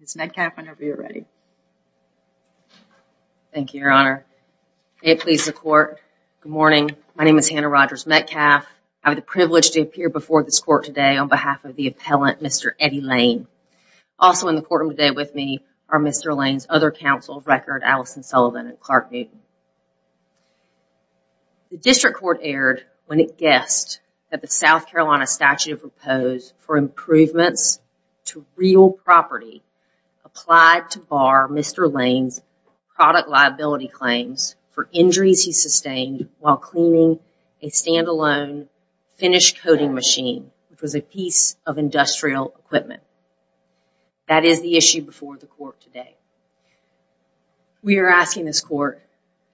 Ms. Metcalf, whenever you're ready. Thank you, Your Honor. May it please the Court, good morning. My name is Hannah Rogers Metcalf. I have the privilege to appear before this Court today on behalf of the appellant, Mr. Eddie Lane. Also in the courtroom today with me are Mr. Lane's other counsels, Record, Alison Sullivan, and Clark Newton. The District Court erred when it guessed that the South Carolina statute proposed for improvements to real property applied to bar Mr. Lane's product liability claims for injuries he sustained while cleaning a stand-alone finished coating machine, which was a piece of industrial equipment. That is the issue before the Court today. We are asking this Court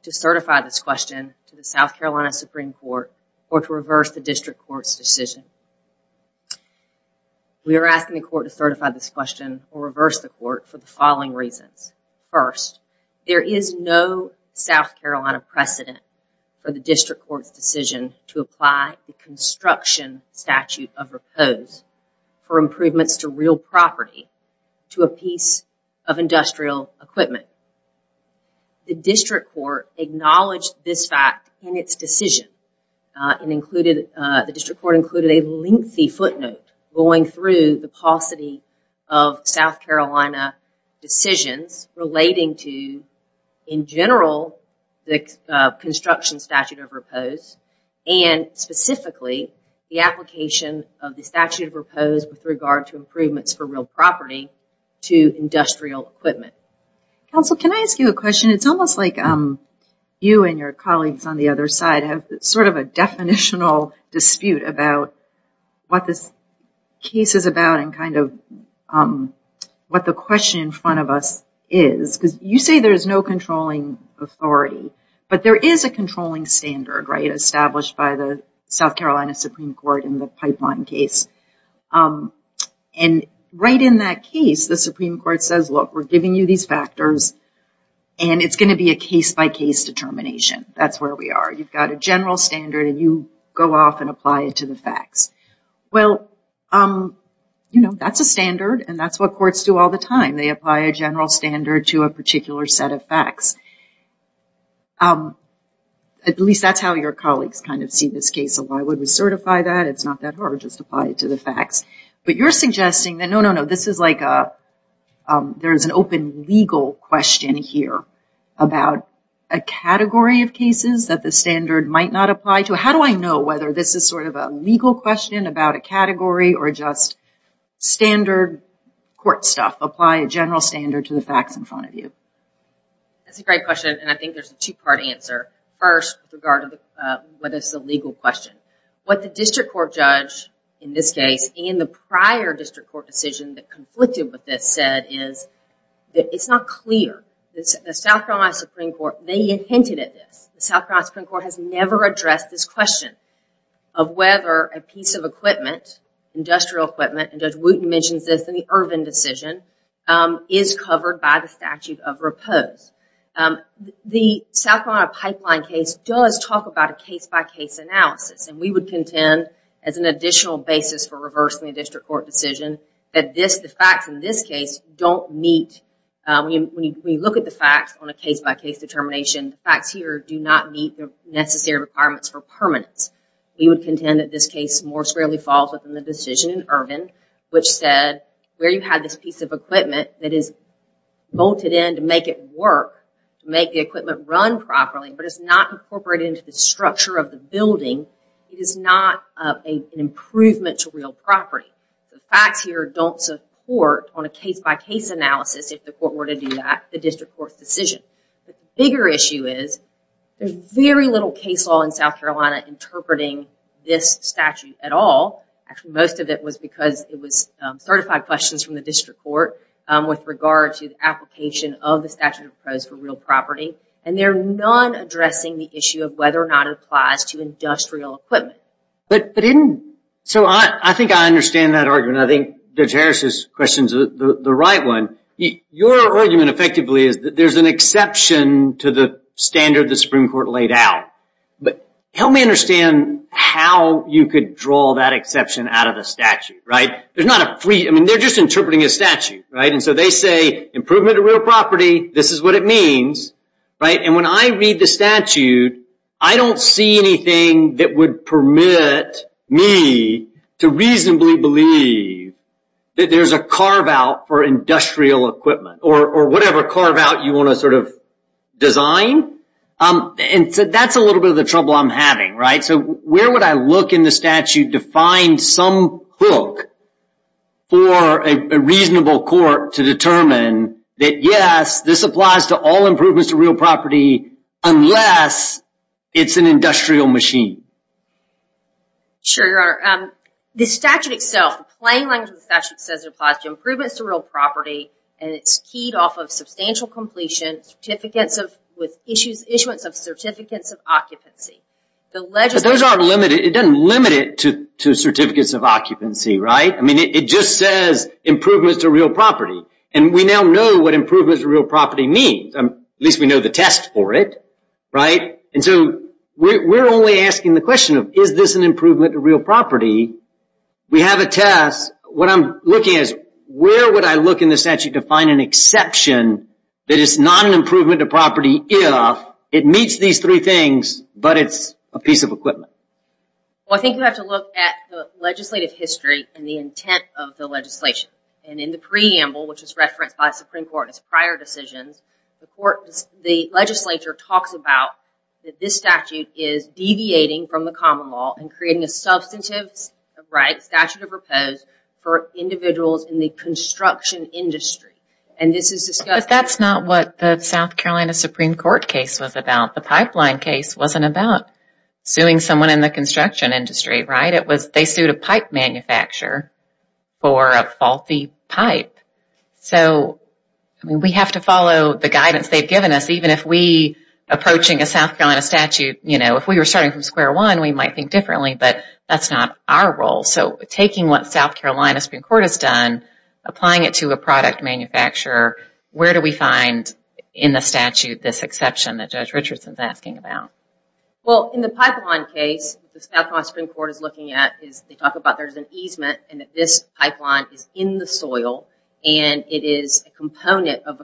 to certify this question to the South Carolina Supreme Court or to reverse the District Court's decision. We are asking the Court to certify this question or reverse the Court for the following reasons. First, there is no South Carolina precedent for the District Court's decision to apply a construction statute of repose for improvements to real property to a piece of industrial equipment. The District Court acknowledged this fact in its decision. The District Court included a lengthy footnote going through the paucity of South Carolina decisions relating to, in general, the construction statute of repose and specifically the application of the statute of repose with regard to improvements for real property to industrial equipment. Counsel, can I ask you a question? It's almost like you and your colleagues on the other side have sort of a definitional dispute about what this case is about and kind of what the question in front of us is. You say there is no controlling authority, but there is a controlling standard established by the South Carolina Supreme Court in the pipeline case. Right in that case, the Supreme Court says, look, we're giving you these factors and it's going to be a case-by-case determination. That's where we are. You've got a general standard and you go off and apply it to the facts. Well, you know, that's a standard and that's what courts do all the time. They apply a general standard to a particular set of facts. At least that's how your colleagues kind of see this case. Why would we certify that? It's not that hard. Just apply it to the facts. But you're suggesting that, no, no, no, this is like there's an open legal question here about a category of cases that the standard might not apply to. How do I know whether this is sort of a legal question about a category or just standard court stuff? Apply a general standard to the facts in front of you. That's a great question, and I think there's a two-part answer. First, with regard to whether it's a legal question. What the district court judge in this case and the prior district court decision that conflicted with this said is it's not clear. The South Carolina Supreme Court, they hinted at this. The South Carolina Supreme Court has never addressed this question of whether a piece of equipment, industrial equipment, and Judge Wooten mentions this in the Irvin decision, is covered by the statute of repose. The South Carolina pipeline case does talk about a case-by-case analysis, and we would contend as an additional basis for reversing the district court decision that the facts in this case don't meet. When you look at the facts on a case-by-case determination, the facts here do not meet the necessary requirements for permanence. We would contend that this case more squarely falls within the decision in Irvin, which said where you had this piece of equipment that is bolted in to make it work, to make the equipment run properly, but it's not incorporated into the structure of the building, it is not an improvement to real property. The facts here don't support on a case-by-case analysis if the court were to do that, the district court's decision. The bigger issue is there's very little case law in South Carolina interpreting this statute at all. Actually, most of it was because it was certified questions from the district court with regard to the application of the statute of repose for real property, and there are none addressing the issue of whether or not it applies to industrial equipment. I think I understand that argument. I think Judge Harris's question is the right one. Your argument, effectively, is that there's an exception to the standard the Supreme Court laid out. Help me understand how you could draw that exception out of the statute. They're just interpreting a statute. They say improvement to real property, this is what it means. When I read the statute, I don't see anything that would permit me to reasonably believe that there's a carve-out for industrial equipment, or whatever carve-out you want to design. That's a little bit of the trouble I'm having. Where would I look in the statute to find some hook for a reasonable court to determine that, yes, this applies to all improvements to real property unless it's an industrial machine? Sure, Your Honor. The statute itself, the plain language of the statute says it applies to improvements to real property, and it's keyed off of substantial completion with issuance of certificates of occupancy. It doesn't limit it to certificates of occupancy, right? It just says improvements to real property. We now know what improvements to real property mean. At least we know the test for it. We're only asking the question of, is this an improvement to real property? We have a test. What I'm looking at is, where would I look in the statute to find an exception that it's not an improvement to property if it meets these three things, but it's a piece of equipment? I think you have to look at the legislative history and the intent of the legislation. In the preamble, which is referenced by the Supreme Court as prior decisions, the legislature talks about that this statute is deviating from the common law and creating a substantive statute of repose for individuals in the construction industry. But that's not what the South Carolina Supreme Court case was about. The pipeline case wasn't about suing someone in the construction industry, right? They sued a pipe manufacturer for a faulty pipe. We have to follow the guidance they've given us, even if we, approaching a South Carolina statute, if we were starting from square one, we might think differently, but that's not our role. Taking what South Carolina Supreme Court has done, applying it to a product manufacturer, where do we find in the statute this exception that Judge Richardson is asking about? In the pipeline case, what the South Carolina Supreme Court is looking at is, they talk about there's an easement and that this pipeline is in the soil and it is a component of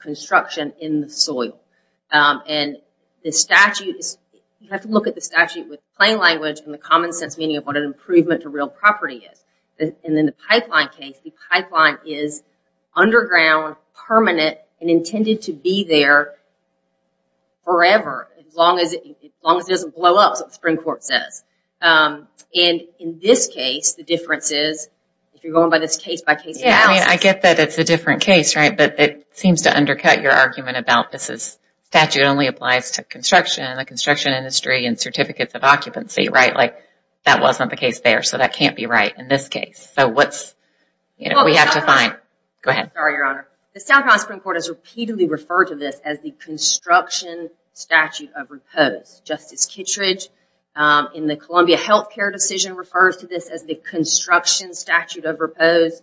construction in the soil. And the statute is, you have to look at the statute with plain language and the common sense meaning of what an improvement to real property is. And in the pipeline case, the pipeline is underground, permanent, and intended to be there forever, as long as it doesn't blow up, is what the Supreme Court says. And in this case, the difference is, if you're going by this case by case analysis... Yeah, I mean, I get that it's a different case, right? But it seems to undercut your argument about this is statute only applies to construction and the construction industry and certificates of occupancy, right? Like, that wasn't the case there, so that can't be right in this case. So what's, you know, we have to find... Sorry, Your Honor. The South Carolina Supreme Court has repeatedly referred to this as the construction statute of repose. Justice Kittredge, in the Columbia health care decision, refers to this as the construction statute of repose.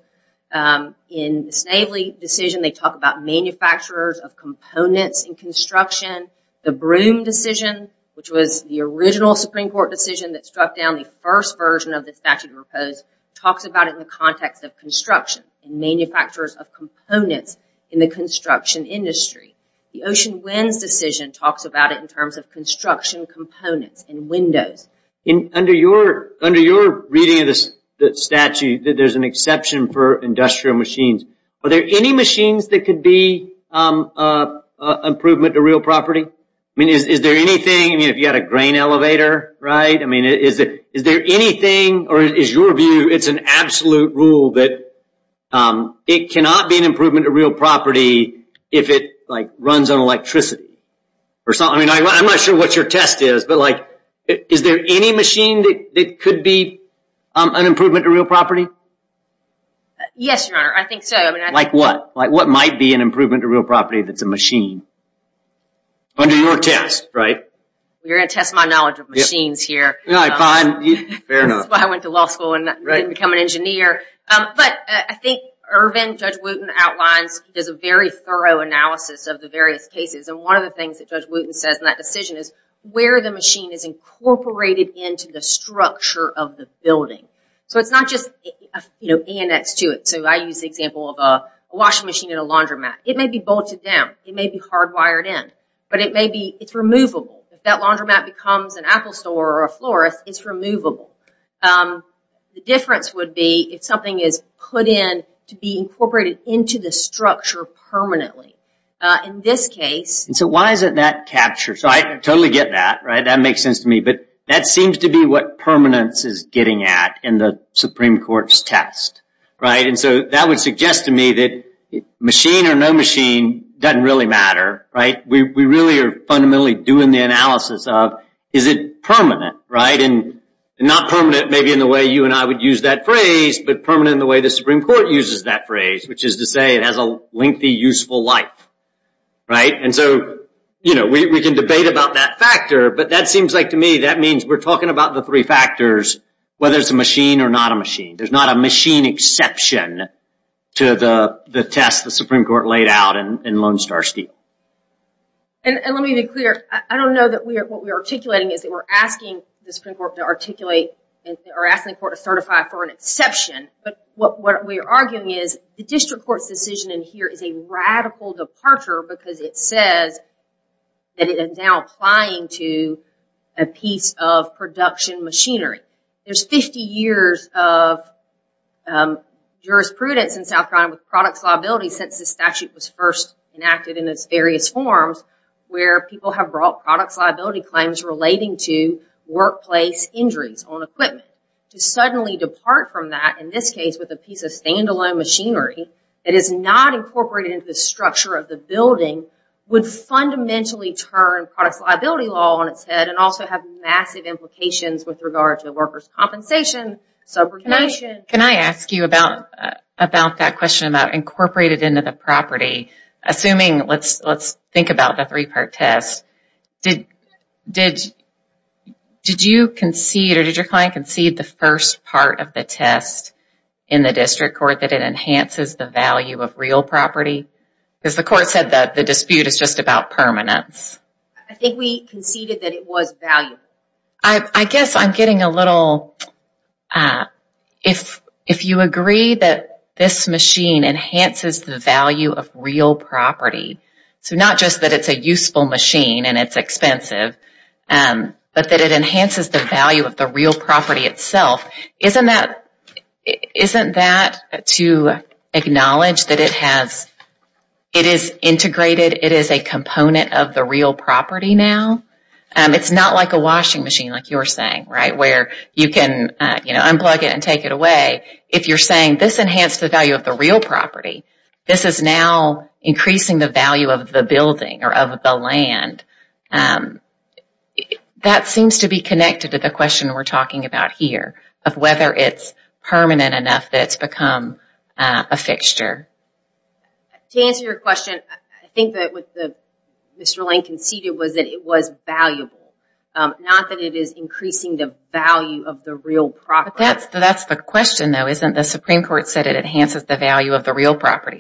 In the Snavely decision, they talk about manufacturers of components in construction. The Broom decision, which was the original Supreme Court decision that struck down the first version of the statute of repose, talks about it in the context of construction and manufacturers of components in the construction industry. The Ocean Winds decision talks about it in terms of construction components and windows. Under your reading of the statute, there's an exception for industrial machines. Are there any machines that could be an improvement to real property? I mean, is there anything, I mean, if you had a grain elevator, right? I mean, is there anything, or is your view, it's an absolute rule that it cannot be an improvement to real property if it runs on electricity? I mean, I'm not sure what your test is, but is there any machine that could be an improvement to real property? Yes, Your Honor, I think so. Like what? Like what might be an improvement to real property if it's a machine? Under your test, right? You're going to test my knowledge of machines here. Fair enough. That's why I went to law school and didn't become an engineer. But I think Irvin, Judge Wooten outlines, does a very thorough analysis of the various cases, and one of the things that Judge Wooten says in that decision is where the machine is incorporated into the structure of the building. So it's not just, you know, annexed to it. So I use the example of a washing machine in a laundromat. It may be bolted down. It may be hardwired in, but it may be, it's removable. If that laundromat becomes an Apple store or a florist, it's removable. The difference would be if something is put in to be incorporated into the structure permanently. In this case. So why isn't that captured? So I totally get that, right? That makes sense to me. But that seems to be what permanence is getting at in the Supreme Court's test, right? And so that would suggest to me that machine or no machine doesn't really matter, right? We really are fundamentally doing the analysis of is it permanent, right? And not permanent maybe in the way you and I would use that phrase, but permanent in the way the Supreme Court uses that phrase, which is to say it has a lengthy, useful life, right? And so, you know, we can debate about that factor, but that seems like to me that means we're talking about the three factors, whether it's a machine or not a machine. There's not a machine exception to the test the Supreme Court laid out in Lone Star Steel. And let me be clear. I don't know that what we're articulating is that we're asking the Supreme Court to articulate or asking the court to certify for an exception. But what we're arguing is the district court's decision in here is a radical departure because it says that it is now applying to a piece of production machinery. There's 50 years of jurisprudence in South Carolina with products liability since the statute was first enacted in its various forms where people have brought products liability claims relating to workplace injuries on equipment. To suddenly depart from that, in this case, with a piece of stand-alone machinery that is not incorporated into the structure of the building would fundamentally turn products liability law on its head and also have massive implications with regard to workers' compensation, subordination. Can I ask you about that question about incorporated into the property? Assuming, let's think about the three-part test. Did you concede or did your client concede the first part of the test in the district court that it enhances the value of real property? Because the court said that the dispute is just about permanence. I think we conceded that it was valuable. I guess I'm getting a little... If you agree that this machine enhances the value of real property, so not just that it's a useful machine and it's expensive, but that it enhances the value of the real property itself, isn't that to acknowledge that it is integrated, it is a component of the real property now? It's not like a washing machine like you're saying, right? Where you can unplug it and take it away. If you're saying this enhanced the value of the real property, this is now increasing the value of the building or of the land. That seems to be connected to the question we're talking about here of whether it's permanent enough that it's become a fixture. To answer your question, I think that what Mr. Lane conceded was that it was valuable. Not that it is increasing the value of the real property. That's the question though, isn't it? The Supreme Court said it enhances the value of the real property.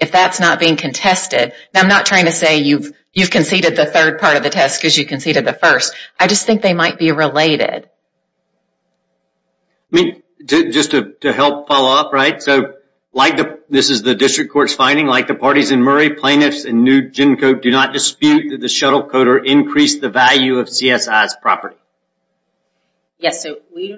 If that's not being contested, I'm not trying to say you've conceded the third part of the test because you conceded the first. I just think they might be related. Just to help follow up, this is the district court's finding, like the parties in Murray, do not dispute that the shuttle coder increased the value of CSI's property. Yes, we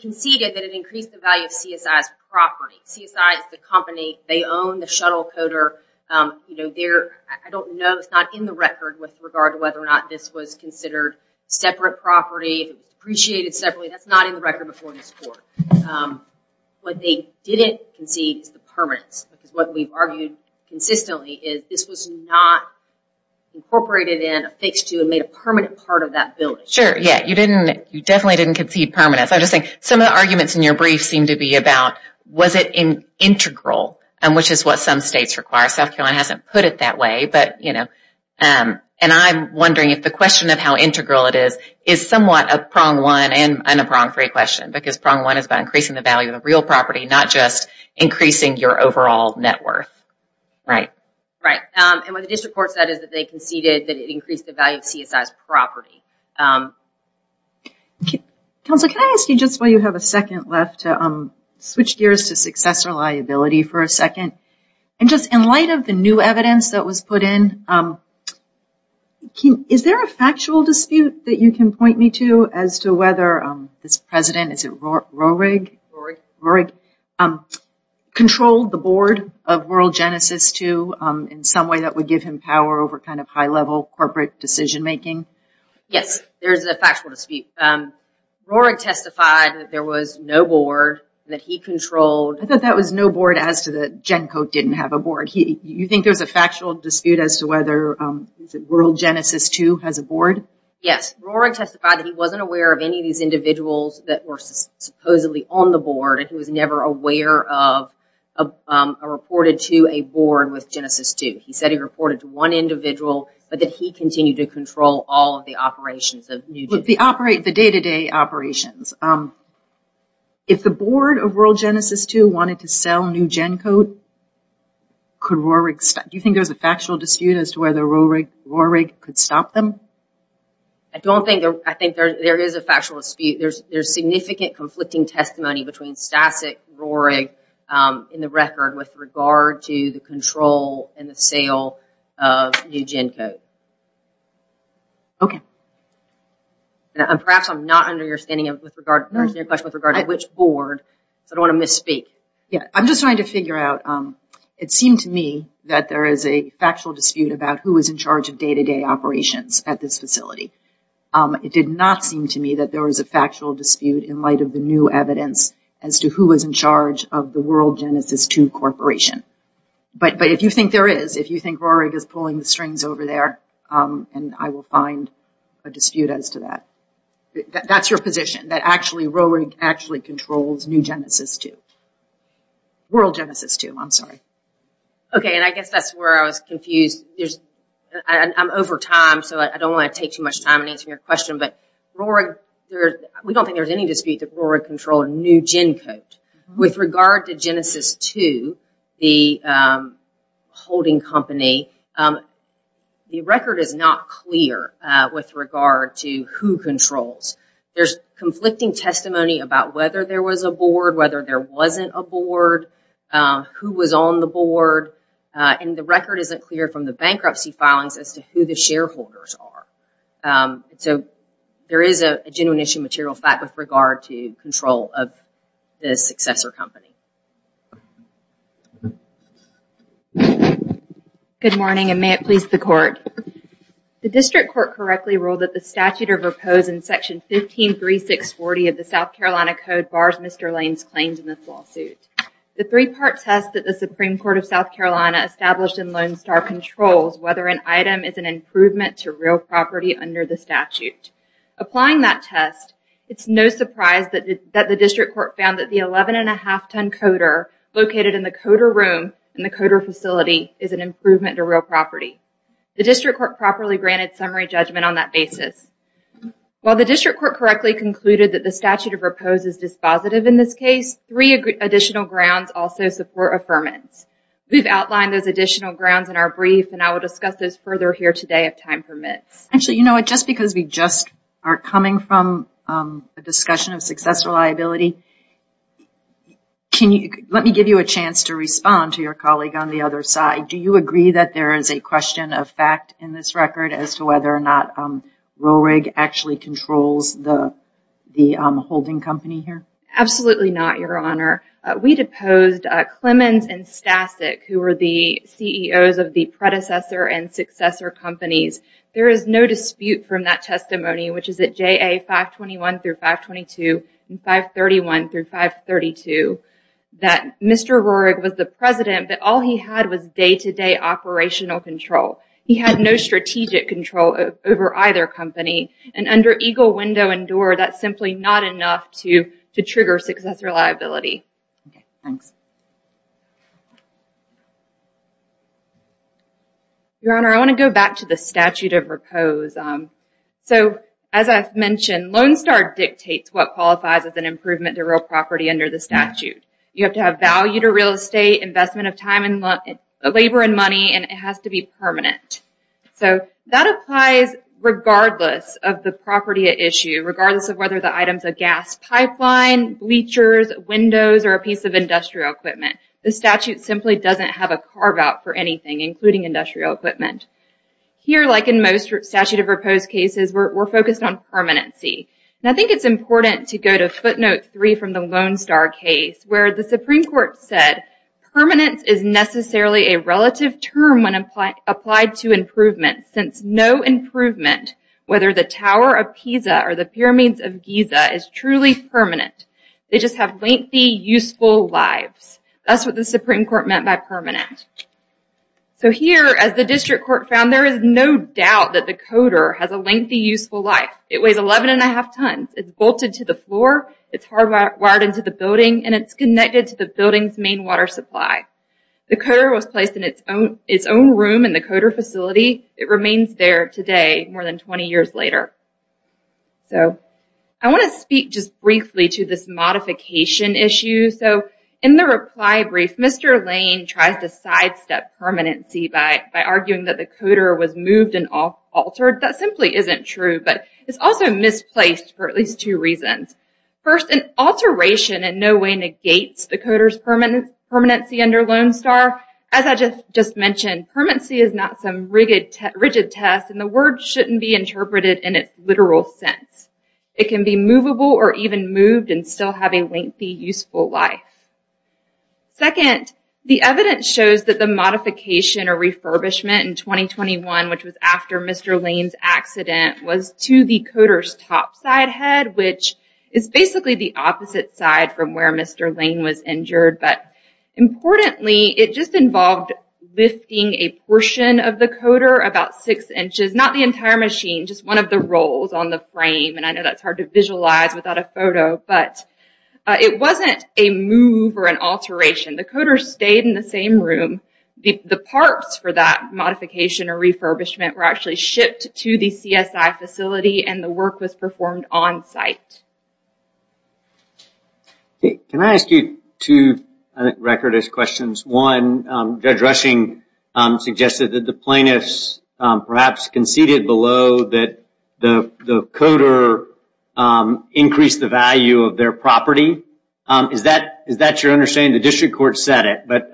conceded that it increased the value of CSI's property. CSI is the company. They own the shuttle coder. I don't know. It's not in the record with regard to whether or not this was considered separate property. It was appreciated separately. That's not in the record before this court. What they didn't concede is the permanence. What we've argued consistently is this was not incorporated in, affixed to, and made a permanent part of that building. Sure. You definitely didn't concede permanence. Some of the arguments in your brief seem to be about was it integral, which is what some states require. South Carolina hasn't put it that way. I'm wondering if the question of how integral it is is somewhat a prong one and a prong three question because prong one is about increasing the value of the real property, not just increasing your overall net worth. Right. Right. What the district court said is that they conceded that it increased the value of CSI's property. Counsel, can I ask you just while you have a second left to switch gears to successor liability for a second? In light of the new evidence that was put in, is there a factual dispute that you can point me to as to whether this president, is it Roehrig? Roehrig, controlled the board of World Genesis II in some way that would give him power over kind of high-level corporate decision-making? Yes, there is a factual dispute. Roehrig testified that there was no board that he controlled. I thought that was no board as to the GenCo didn't have a board. You think there's a factual dispute as to whether World Genesis II has a board? Yes, Roehrig testified that he wasn't aware of any of these individuals that were supposedly on the board and he was never aware of a reported to a board with Genesis II. He said he reported to one individual, but that he continued to control all of the operations of New GenCo. The day-to-day operations. If the board of World Genesis II wanted to sell New GenCo, do you think there's a factual dispute as to whether Roehrig could stop them? I think there is a factual dispute. There's significant conflicting testimony between Stasek and Roehrig in the record with regard to the control and the sale of New GenCo. Perhaps I'm not understanding your question with regard to which board, so I don't want to misspeak. I'm just trying to figure out. It seemed to me that there is a factual dispute about who was in charge of day-to-day operations at this facility. It did not seem to me that there was a factual dispute in light of the new evidence as to who was in charge of the World Genesis II Corporation. But if you think there is, if you think Roehrig is pulling the strings over there, I will find a dispute as to that. That's your position, that actually Roehrig actually controls New Genesis II. World Genesis II, I'm sorry. Okay, and I guess that's where I was confused. I'm over time, so I don't want to take too much time in answering your question, but we don't think there's any dispute that Roehrig controlled New GenCo. With regard to Genesis II, the holding company, the record is not clear with regard to who controls. There's conflicting testimony about whether there was a board, whether there wasn't a board, who was on the board, and the record isn't clear from the bankruptcy filings as to who the shareholders are. So there is a genuine issue of material fact with regard to control of the successor company. Good morning, and may it please the Court. The District Court correctly ruled that the statute of repose in Section 153640 of the South Carolina Code bars Mr. Lane's claims in this lawsuit. The three-part test that the Supreme Court of South Carolina established in Lone Star controls whether an item is an improvement to real property under the statute. Applying that test, it's no surprise that the District Court found that the 11 1⁄2 ton coder located in the coder room in the coder facility is an improvement to real property. The District Court properly granted summary judgment on that basis. While the District Court correctly concluded that the statute of repose is dispositive in this case, three additional grounds also support affirmance. We've outlined those additional grounds in our brief, and I will discuss those further here today if time permits. Actually, you know what, just because we just are coming from a discussion of successful liability, let me give you a chance to respond to your colleague on the other side. Do you agree that there is a question of fact in this record as to whether or not Roehrig actually controls the holding company here? Absolutely not, Your Honor. We deposed Clemens and Stasek, who were the CEOs of the predecessor and successor companies. There is no dispute from that testimony, which is at JA 521 through 522 and 531 through 532, that Mr. Roehrig was the president, but all he had was day-to-day operational control. He had no strategic control over either company, and under Eagle, Window, and Door, that's simply not enough to trigger successor liability. Okay, thanks. Your Honor, I want to go back to the statute of repose. So, as I've mentioned, Lone Star dictates what qualifies as an improvement to real property under the statute. You have to have value to real estate, investment of labor and money, and it has to be permanent. So, that applies regardless of the property at issue, regardless of whether the item's a gas pipeline, bleachers, windows, or a piece of industrial equipment. The statute simply doesn't have a carve-out for anything, including industrial equipment. Here, like in most statute of repose cases, we're focused on permanency. And I think it's important to go to footnote 3 from the Lone Star case, where the Supreme Court said, permanence is necessarily a relative term when applied to improvement, since no improvement, whether the Tower of Pisa or the Pyramids of Giza, is truly permanent. They just have lengthy, useful lives. That's what the Supreme Court meant by permanent. So, here, as the District Court found, there is no doubt that the coder has a lengthy, useful life. It weighs 11.5 tons, it's bolted to the floor, it's hardwired into the building, and it's connected to the building's main water supply. The coder was placed in its own room in the coder facility. It remains there today, more than 20 years later. So, I want to speak just briefly to this modification issue. So, in the reply brief, Mr. Lane tries to sidestep permanency by arguing that the coder was moved and altered. That simply isn't true, but it's also misplaced for at least two reasons. First, an alteration in no way negates the coder's permanency under Lone Star. As I just mentioned, permanency is not some rigid test, and the word shouldn't be interpreted in its literal sense. It can be movable or even moved and still have a lengthy, useful life. Second, the evidence shows that the modification or refurbishment in 2021, which was after Mr. Lane's accident, was to the coder's top side head, which is basically the opposite side from where Mr. Lane was injured. Importantly, it just involved lifting a portion of the coder, about six inches, not the entire machine, just one of the rolls on the frame. I know that's hard to visualize without a photo, but it wasn't a move or an alteration. The coder stayed in the same room. The parts for that modification or refurbishment were actually shipped to the CSI facility and the work was performed on site. Can I ask you two record-ish questions? One, Judge Rushing suggested that the plaintiffs perhaps conceded below that the coder increased the value of their property. Is that your understanding? The district court said it, but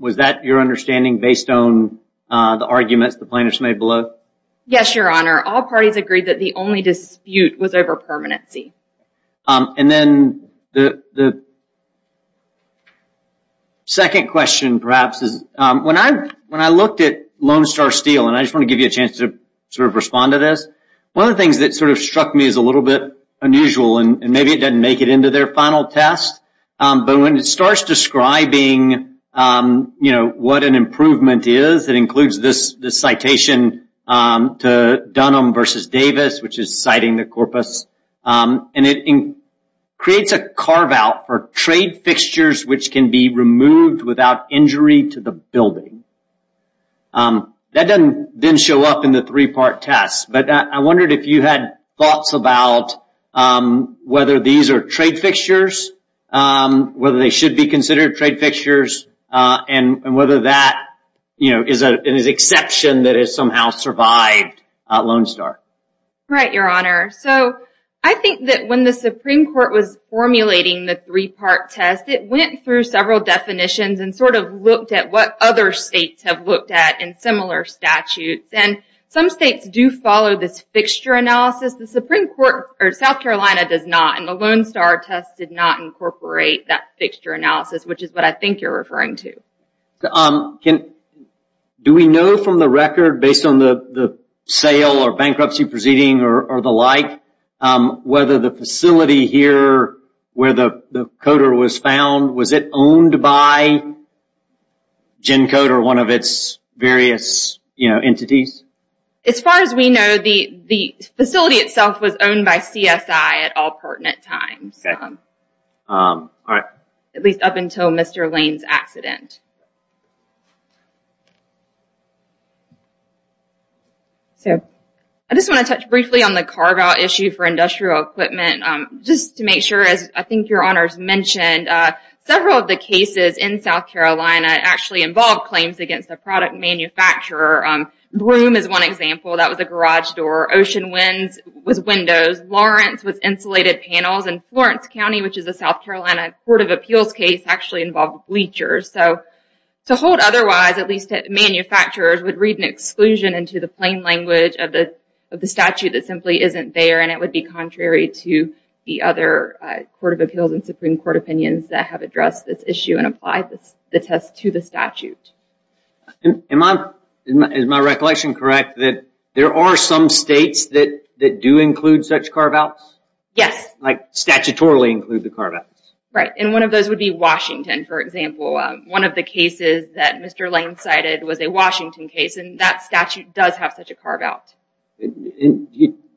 was that your understanding based on the arguments the plaintiffs made below? Yes, Your Honor. All parties agreed that the only dispute was over permanency. Second question, perhaps. When I looked at Lone Star Steel, and I just want to give you a chance to respond to this, one of the things that struck me as a little bit unusual, and maybe it didn't make it into their final test, but when it starts describing what an improvement is, it includes this citation to Dunham v. Davis, which is citing the corpus, and it creates a carve-out for trade fixtures which can be removed without injury to the building. That didn't show up in the three-part test, but I wondered if you had thoughts about whether these are trade fixtures, whether they should be considered trade fixtures, and whether that is an exception that has somehow survived Lone Star. Right, Your Honor. So, I think that when the Supreme Court was formulating the three-part test, it went through several definitions and sort of looked at what other states have looked at in similar statutes, and some states do follow this fixture analysis. The Supreme Court, or South Carolina, does not, and the Lone Star test did not incorporate that fixture analysis, which is what I think you're referring to. Do we know from the record, based on the sale or bankruptcy proceeding or the like, whether the facility here where the coder was found, was it owned by GenCoder, one of its various entities? As far as we know, the facility itself was owned by CSI at all pertinent times. At least up until Mr. Lane's accident. I just want to touch briefly on the carve-out issue for industrial equipment, just to make sure, as I think Your Honor has mentioned, several of the cases in South Carolina actually involved claims against a product manufacturer. Broom is one example. That was a garage door. Ocean Winds was windows. Lawrence was insulated panels, and Florence County, which is a South Carolina Court of Appeals case, actually involved bleachers. So, to hold otherwise, at least manufacturers would read an exclusion into the plain language of the other Court of Appeals and Supreme Court opinions that have addressed this issue and applied the test to the statute. Is my recollection correct that there are some states that do include such carve-outs? Yes. Statutorily include the carve-outs? Right. One of those would be Washington, for example. One of the cases that Mr. Lane cited was a Washington case and that statute does have such a carve-out.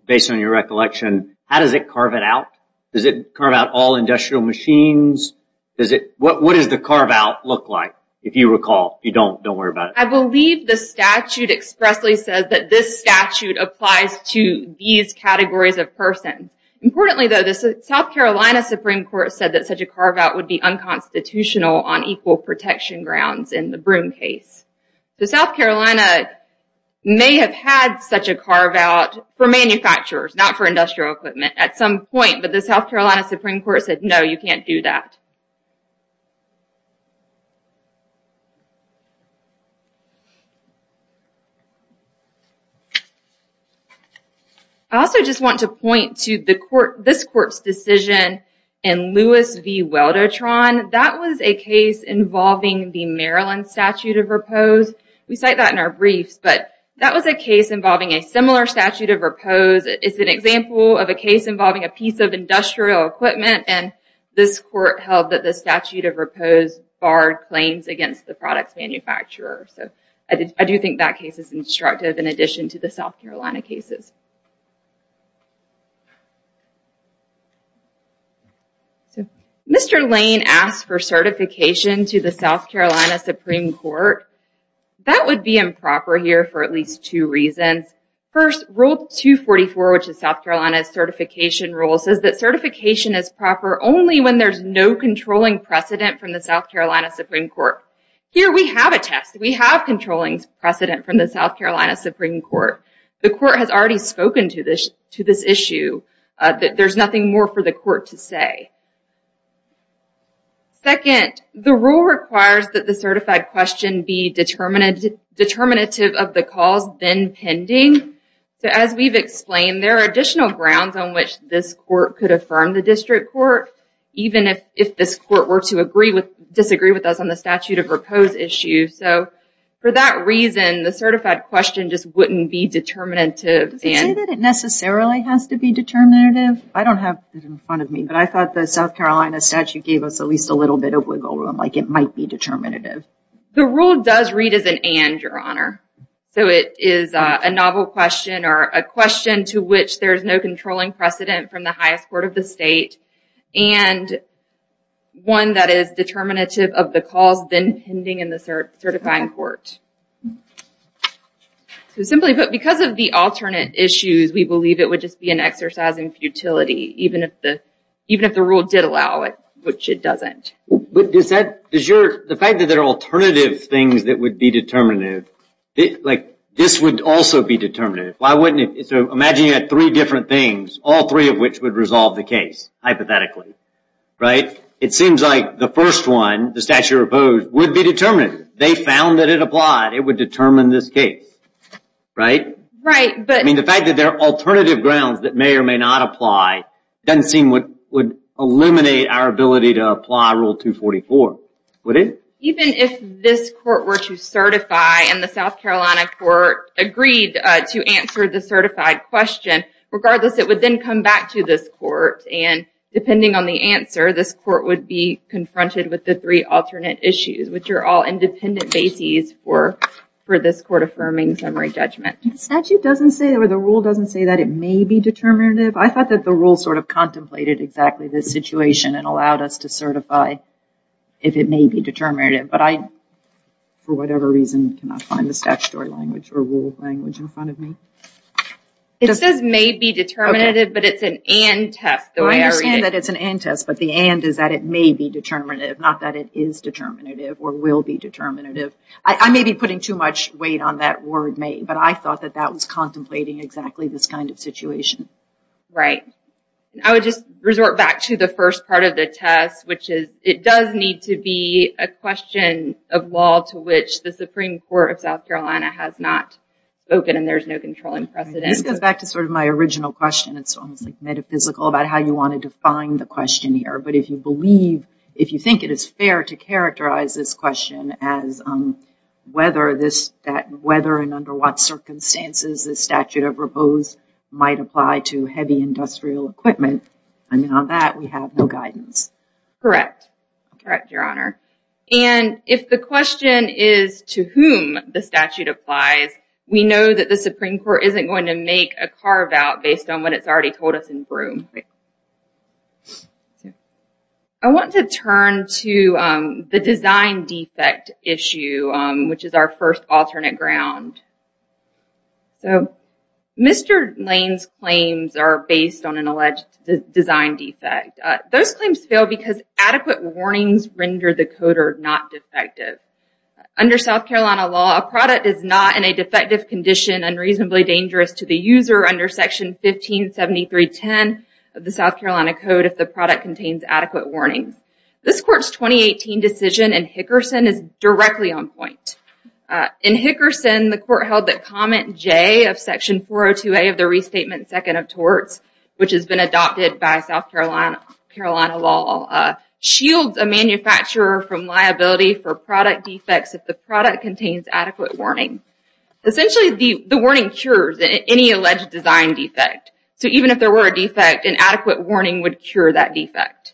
Based on your recollection, how does it carve it out? Does it carve out all industrial machines? What does the carve-out look like, if you recall? If you don't, don't worry about it. I believe the statute expressly says that this statute applies to these categories of person. Importantly, though, the South Carolina Supreme Court said that such a carve-out would be unconstitutional on equal protection grounds in the Broom case. The South Carolina may have had such a carve-out for manufacturers, not for industrial equipment, at some point, but the South Carolina Supreme Court said, no, you can't do that. I also just want to point to this court's decision in Lewis v. Weldotron. That was a case involving the Maryland statute of repose. We cite that in our briefs, but that was a case involving a similar statute of repose. It's an example of a case involving a piece of industrial equipment, and this court held that the statute of repose barred claims against the product manufacturer. I do think that case is instructive, in addition to the South Carolina cases. Mr. Lane asked for certification to the South Carolina Supreme Court. That would be improper here for at least two reasons. First, Rule 244, which is South Carolina's certification rule, says that certification is proper only when there's no controlling precedent from the South Carolina Supreme Court. Here, we have a test. We have controlling precedent from the South Carolina Supreme Court. The court has already spoken to this issue. There's nothing more for the court to say. Second, the rule requires that the certified question be determinative of the cause, then pending. As we've explained, there are additional grounds on which this court could affirm the district court, even if this court were to disagree with us on the statute of repose issue. For that reason, the certified question just wouldn't be determinative. Does it say that it necessarily has to be determinative? I don't have it in front of me, but I thought the South Carolina statute gave us at least a little bit of wiggle room, like it might be determinative. The rule does read as an and, Your Honor. So, it is a novel question, or a question to which there's no controlling precedent from the highest court of the state, and one that is determinative of the cause, then pending in the certifying court. Simply put, because of the alternate issues, we believe it would just be an exercise in futility, even if the rule did allow it, which it doesn't. The fact that there are alternative things that would be determinative, this would also be determinative. Imagine you had three different things, all three of which would resolve the case, hypothetically. It seems like the first one, the statute of repose, would be determinative. They found that it applied. It would determine the outcome in this case, right? The fact that there are alternative grounds that may or may not apply doesn't seem to eliminate our ability to apply Rule 244, would it? Even if this court were to certify and the South Carolina court agreed to answer the certified question, regardless, it would then come back to this court, and depending on the answer, this court would be confronted with the three alternate issues, which are all independent bases for this court affirming summary judgment. The rule doesn't say that it may be determinative. I thought that the rule contemplated exactly this situation and allowed us to certify if it may be determinative, but I, for whatever reason, cannot find the statutory language or rule language in front of me. It says may be determinative, but it's an and test. I understand that it's an and test, but the and is that may be determinative, not that it is determinative or will be determinative. I may be putting too much weight on that word may, but I thought that that was contemplating exactly this kind of situation. I would just resort back to the first part of the test, which is it does need to be a question of law to which the Supreme Court of South Carolina has not spoken and there's no controlling precedent. This goes back to sort of my original question. It's almost metaphysical about how you want to define the question here, but if you believe if you think it is fair to characterize this question as whether this that whether and under what circumstances the statute of might apply to heavy industrial equipment and on that we have no guidance. Correct. Correct, Your Honor. And if the question is to whom the statute applies, we know that the Supreme Court isn't going to make a carve out based on what it's already told us in Broome. I want to turn to the design defect issue, which is our first alternate ground. So, Mr. Lane's claims are based on an alleged design defect. Those claims fail because adequate warnings render the coder not defective. Under South Carolina law, a product is not in a defective condition and reasonably dangerous to the user under section 157310 of the South Carolina Code if the product contains adequate warnings. This court's 2018 decision in Hickerson is directly on point. In Hickerson, the court held that comment J of section 402A of the restatement second of torts, which has been adopted by South Carolina law, shields a manufacturer from liability for product defects if the product contains adequate warning. Essentially, the warning cures any alleged design defect. So even if there were a defect, an adequate warning would cure that defect.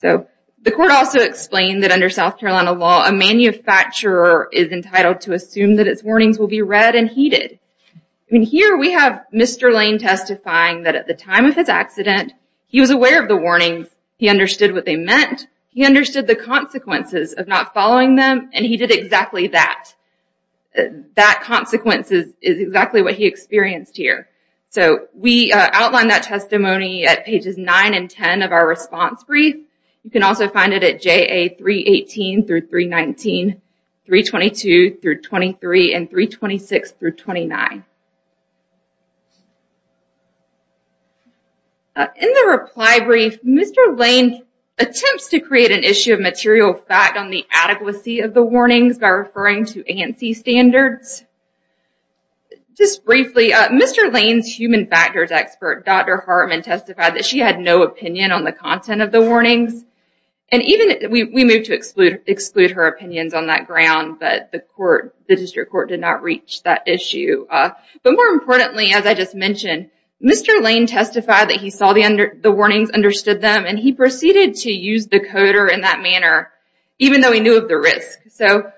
The court also explained that under South Carolina law, a manufacturer is entitled to assume that its warnings will be read and heeded. Here we have Mr. Lane testifying that at the time of his accident, he was aware of the warnings, he understood what they meant, he understood the consequences of not following them, and he did exactly that. That consequence is exactly what he experienced here. So we outline that testimony at pages 9 and 10 of our response brief. You can also find it at JA 318-319, 322-23, and 326-29. In the next slide, I'm going to create an issue of material fact on the adequacy of the warnings by referring to ANSI standards. Just briefly, Mr. Lane's human factors expert, Dr. Hartman, testified that she had no opinion on the content of the warnings. We moved to exclude her opinions on that ground, but the district court did not reach that issue. But more importantly, as I just mentioned, Mr. Lane testified that he saw the coder in that manner, even though he knew of the risk. So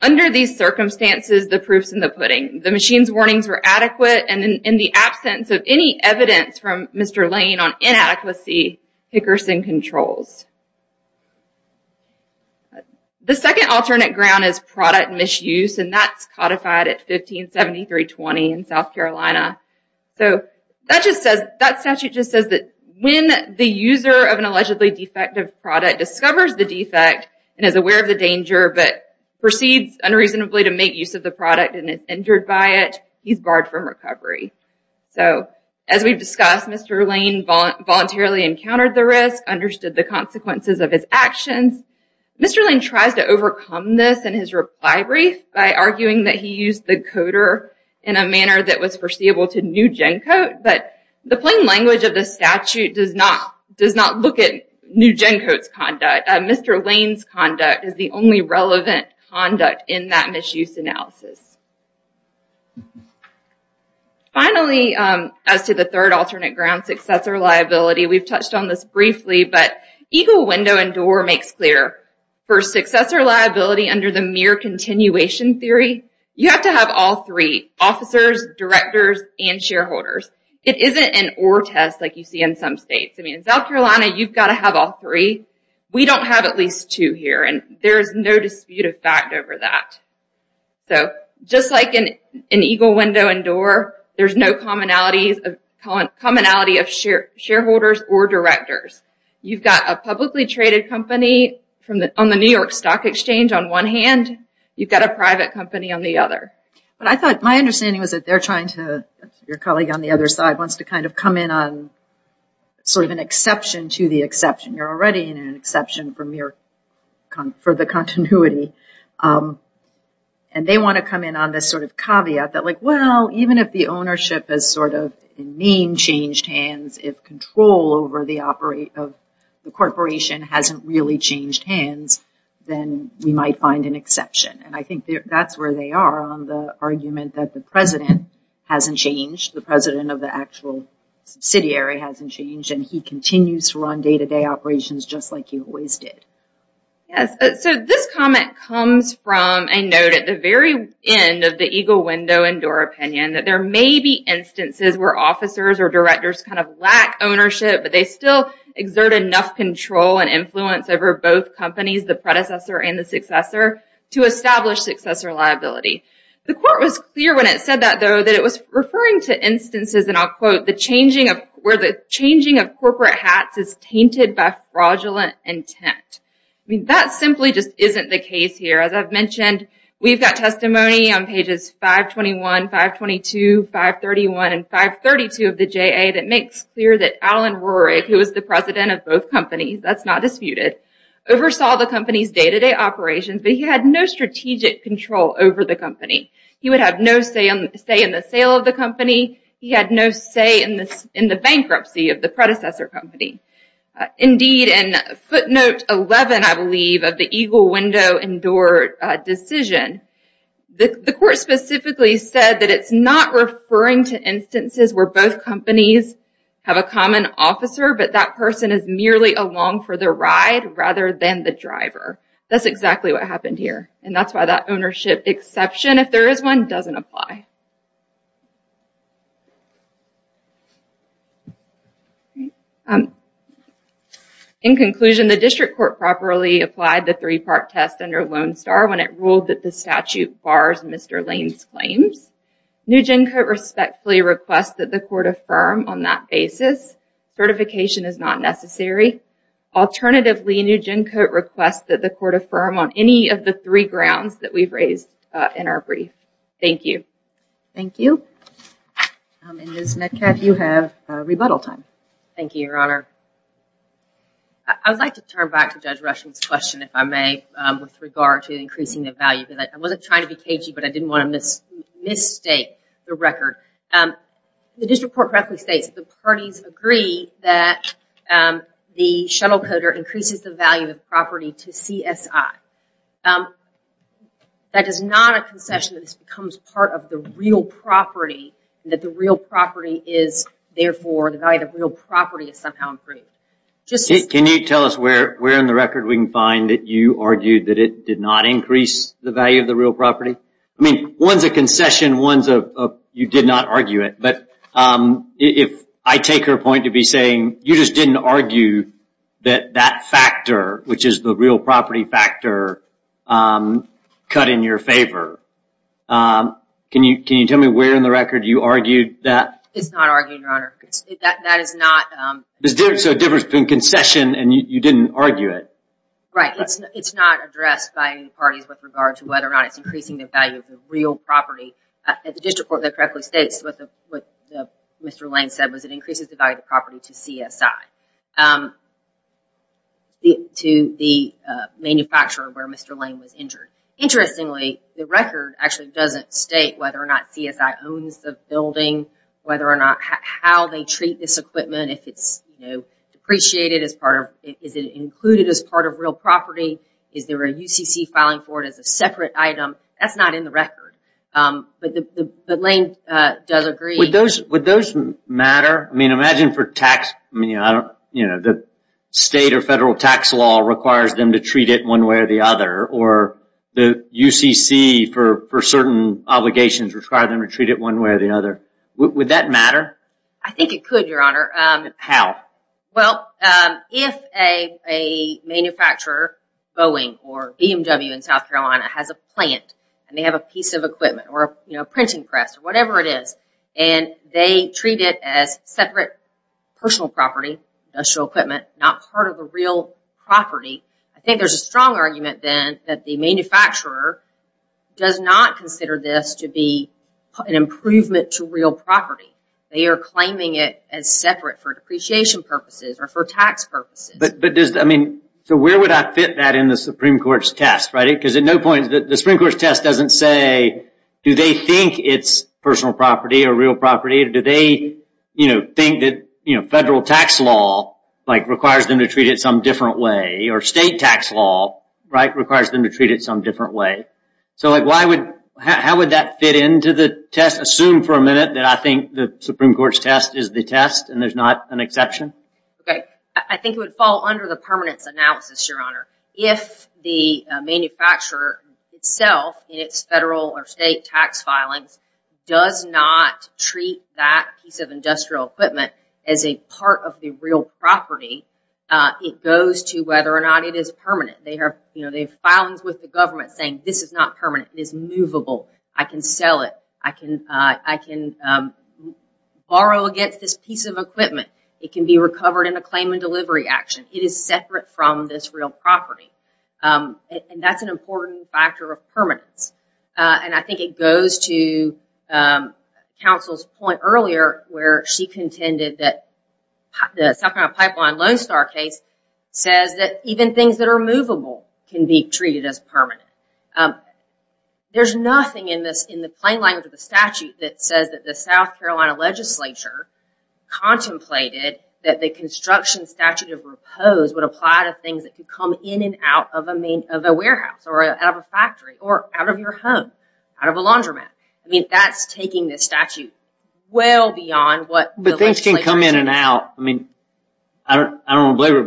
under these circumstances, the proof's in the pudding. The machine's warnings were adequate, and in the absence of any evidence from Mr. Lane on inadequacy, Hickerson controls. The second alternate ground is product misuse, and that's codified at 1573-20 in South Carolina. So that statute just says that when the user of an allegedly defective product discovers the defect and is aware of the danger, but proceeds unreasonably to make use of the product and is injured by it, he's barred from recovery. So as we've discussed, Mr. Lane voluntarily encountered the risk, understood the consequences of his actions. Mr. Lane tries to overcome this in his reply brief by arguing that he used the coder in a manner that was foreseeable to New Gen Coat, but the plain language of the statute does not look at New Gen Coat's conduct. Mr. Lane's conduct is the only relevant conduct in that misuse analysis. Finally, as to the third alternate ground, successor liability, we've touched on this briefly, but Eagle Window and Door makes clear. For successor liability under the mere continuation theory, you have to have all three, officers, directors, and shareholders. It isn't an or test like you see in some states. In South Carolina, you've got to have all three. We don't have at least two here, and there's no dispute of fact over that. So just like in Eagle Window and Door, there's no commonality of shareholders or directors. You've got a publicly traded company on the New York Stock Exchange on one hand, you've got a private company on the other. My understanding was that they're trying to, your colleague on the other side wants to kind of come in on sort of an exception to the exception. You're already in an exception for the continuity. And they want to come in on this sort of caveat that like, well, even if the ownership is sort of in mean changed hands, if control over the corporation hasn't really changed hands, then we might find an exception. And I think that's where they are on the argument that the president hasn't changed. The president of the actual subsidiary hasn't changed, and he continues to run day-to-day operations just like he always did. Yes, so this comment comes from a note at the very end of the Eagle Window and Door opinion that there may be instances where officers or directors kind of lack ownership, but they still exert enough control and influence over both companies, the predecessor and the successor, to establish successor liability. The court was clear when it said that though, that it was referring to instances, and I'll quote, where the changing of corporate hats is tainted by fraudulent intent. That simply just isn't the case here. As I've mentioned, we've got testimony on pages 521, 522, 531, and 532 of the JA that makes clear that Alan Warrick, who was the president of both companies, that's not disputed, oversaw the company's day-to-day operations, but he had no strategic control over the company. He would have no say in the sale of the company. He had no say in the bankruptcy of the predecessor company. Indeed, in footnote 11, I believe, of the Eagle Window and Door decision, the court specifically said that it's not referring to instances where both companies have a common officer, but that person is merely along for the ride rather than the driver. That's exactly what happened here, and that's why that ownership exception, if there is one, doesn't apply. In conclusion, the district court properly applied the three-part test under Lone Star when it ruled that the statute bars Mr. Lane's claims. Nugent could respectfully request that the court affirm on that basis. Certification is not necessary. Alternatively, Nugent could request that the court affirm on any of the three grounds that we've raised in our brief. Thank you. Thank you. Ms. Metcalf, you have rebuttal time. Thank you, Your Honor. I would like to turn back to Judge Rushing's question, if I may, with regard to increasing the value. I wasn't trying to be cagey, but I didn't want to misstate the record. The district court correctly states that the parties agree that the shuttle coder increases the value of property to CSI. That is not a concession that this becomes part of the real property, and that the real property is therefore, the value of the real property is somehow improved. Can you tell us where in the record we can find that you argued that it did not increase the value of the real property? I mean, one's a concession, one's a you did not argue it, but I take her point to be saying, you just didn't argue that that factor, which is the real property factor, cut in your favor. Can you tell me where in the record you argued that? It's not argued, Your Honor. That is not... There's a difference between Right. It's not addressed by any parties with regard to whether or not it's increasing the value of the real property. The district court correctly states what Mr. Lane said, was it increases the value of the property to CSI to the manufacturer where Mr. Lane was injured. Interestingly, the record actually doesn't state whether or not CSI owns the building, whether or not how they treat this equipment, if it's depreciated as part of... Is it included as part of real property? Is there a UCC filing for it as a separate item? That's not in the record. But Lane does agree... Would those matter? I mean, imagine for tax... The state or federal tax law requires them to treat it one way or the other, or the UCC for certain obligations require them to treat it one way or the other. Would that matter? I think it could, Your Honor. How? Well, if a manufacturer Boeing or BMW in South Carolina has a plant and they have a piece of equipment or a printing press or whatever it is, and they treat it as separate personal property, industrial equipment, not part of a real property, I think there's a strong argument then that the manufacturer does not consider this to be an improvement to real property. They are claiming it as separate for depreciation purposes or for tax purposes. But does... I mean, so where would I fit that in the Supreme Court's test, right? Because at no point... The Supreme Court's test doesn't say, do they think it's personal property or real property? Do they think that federal tax law requires them to treat it some different way? Or state tax law requires them to treat it some different way? So, like, why would... How would that fit into the test? Assume for a minute that I think the Supreme Court's test is the test and there's not an exception? I think it would fall under the permanence analysis, Your Honor. If the manufacturer itself in its federal or state tax filings does not treat that piece of industrial equipment as a part of the real property, it goes to whether or not it is permanent. They have filings with the government saying, this is not permanent. It is movable. I can sell it. I can borrow against this piece of equipment. It can be recovered in a claim and delivery action. It is separate from this real property. And that's an important factor of permanence. And I think it goes to counsel's point earlier where she contended that the South Carolina Pipeline Lone Star case says that even things that are movable can be treated as permanent. There's nothing in the plain language of the statute that says that the South Carolina legislature contemplated that the construction statute of repose would apply to things that could come in and out of a warehouse or out of a factory or out of your home, out of a laundromat. I mean, that's taking the statute well beyond what But things can come in and out. I don't want to belabor it,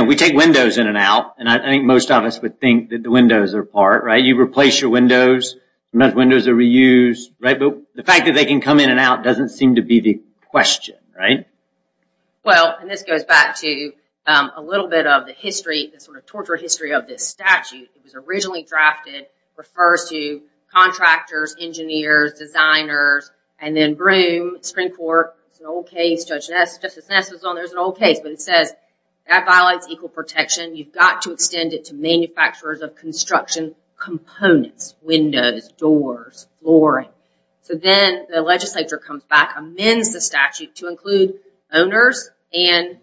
but we take windows in and out. And I think most of us would think that the windows are part. You replace your windows. Sometimes windows are reused. The fact that they can come in and out doesn't seem to be the question, right? Well, and this goes back to a little bit of the history, the sort of torture history of this statute. It was originally drafted. It refers to contractors, engineers, designers, and then Broom, Supreme Court. It's an old case. Justice Ness was on there. It's an old case. But it says that violates equal protection. You've got to extend it to manufacturers of construction components. Windows, doors, flooring. So then the legislature comes back, amends the statute to include owners and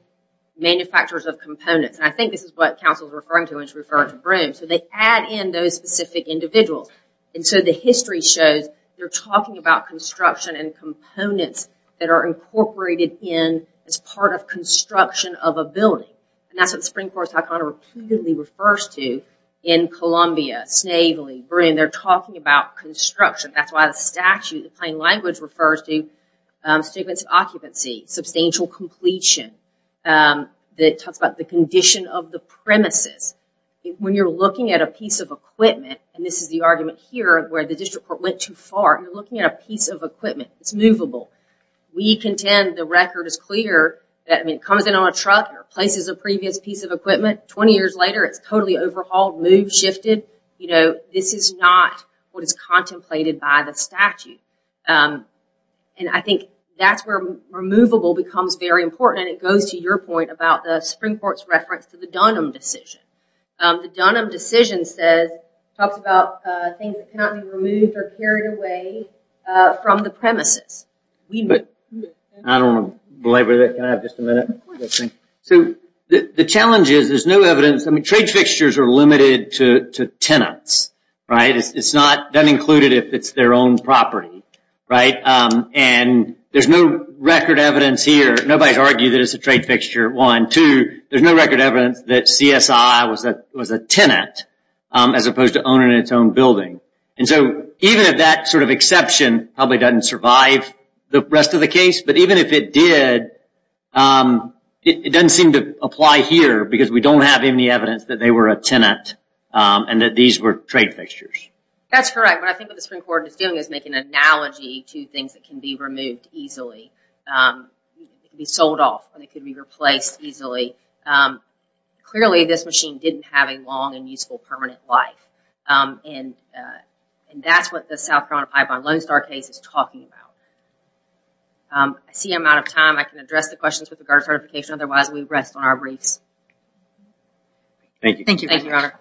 manufacturers of components. And I think this is what council is referring to when it's referring to Broom. So they add in those specific individuals. And so the history shows they're talking about construction and components that are incorporated in as part of construction of a building. And that's what the Supreme Court of Toronto repeatedly refers to in Columbia, Snavely, Broom. They're talking about construction. That's why the statute, the plain language refers to occupancy, substantial completion. It talks about the condition of the premises. When you're looking at a piece of equipment, and this is the argument here where the district court went too far, you're looking at a piece of equipment. It's movable. We contend the record is clear that it comes in on a truck and replaces a previous piece of equipment. Twenty years later it's totally overhauled, moved, shifted. This is not what is contemplated by the statute. And I think that's where movable becomes very important. And it goes to your point about the Supreme Court's reference to the Dunham decision. The Dunham decision says, talks about things that cannot be removed or carried away from the premises. I don't want to belabor that. Can I have just a minute? So the challenge is there's no evidence. Trade fixtures are limited to tenants. It's not included if it's their own property. And there's no record evidence here. Nobody's argued that it's a trade fixture. One. Two, there's no record evidence that CSI was a tenant as opposed to owning its own building. And so even if that sort of exception probably doesn't survive the rest of the case, but even if it did, it doesn't seem to apply here because we don't have any evidence that they were a tenant and that these were trade fixtures. That's correct. What I think the Supreme Court is doing is making an assumption that it could be sold off and it could be replaced easily. Clearly, this machine didn't have a long and useful permanent life. And that's what the South Carolina Pie Bond Lone Star case is talking about. I see I'm out of time. I can address the questions with regard to certification. Otherwise, we rest on our briefs. Thank you. Thank you, Your Honor.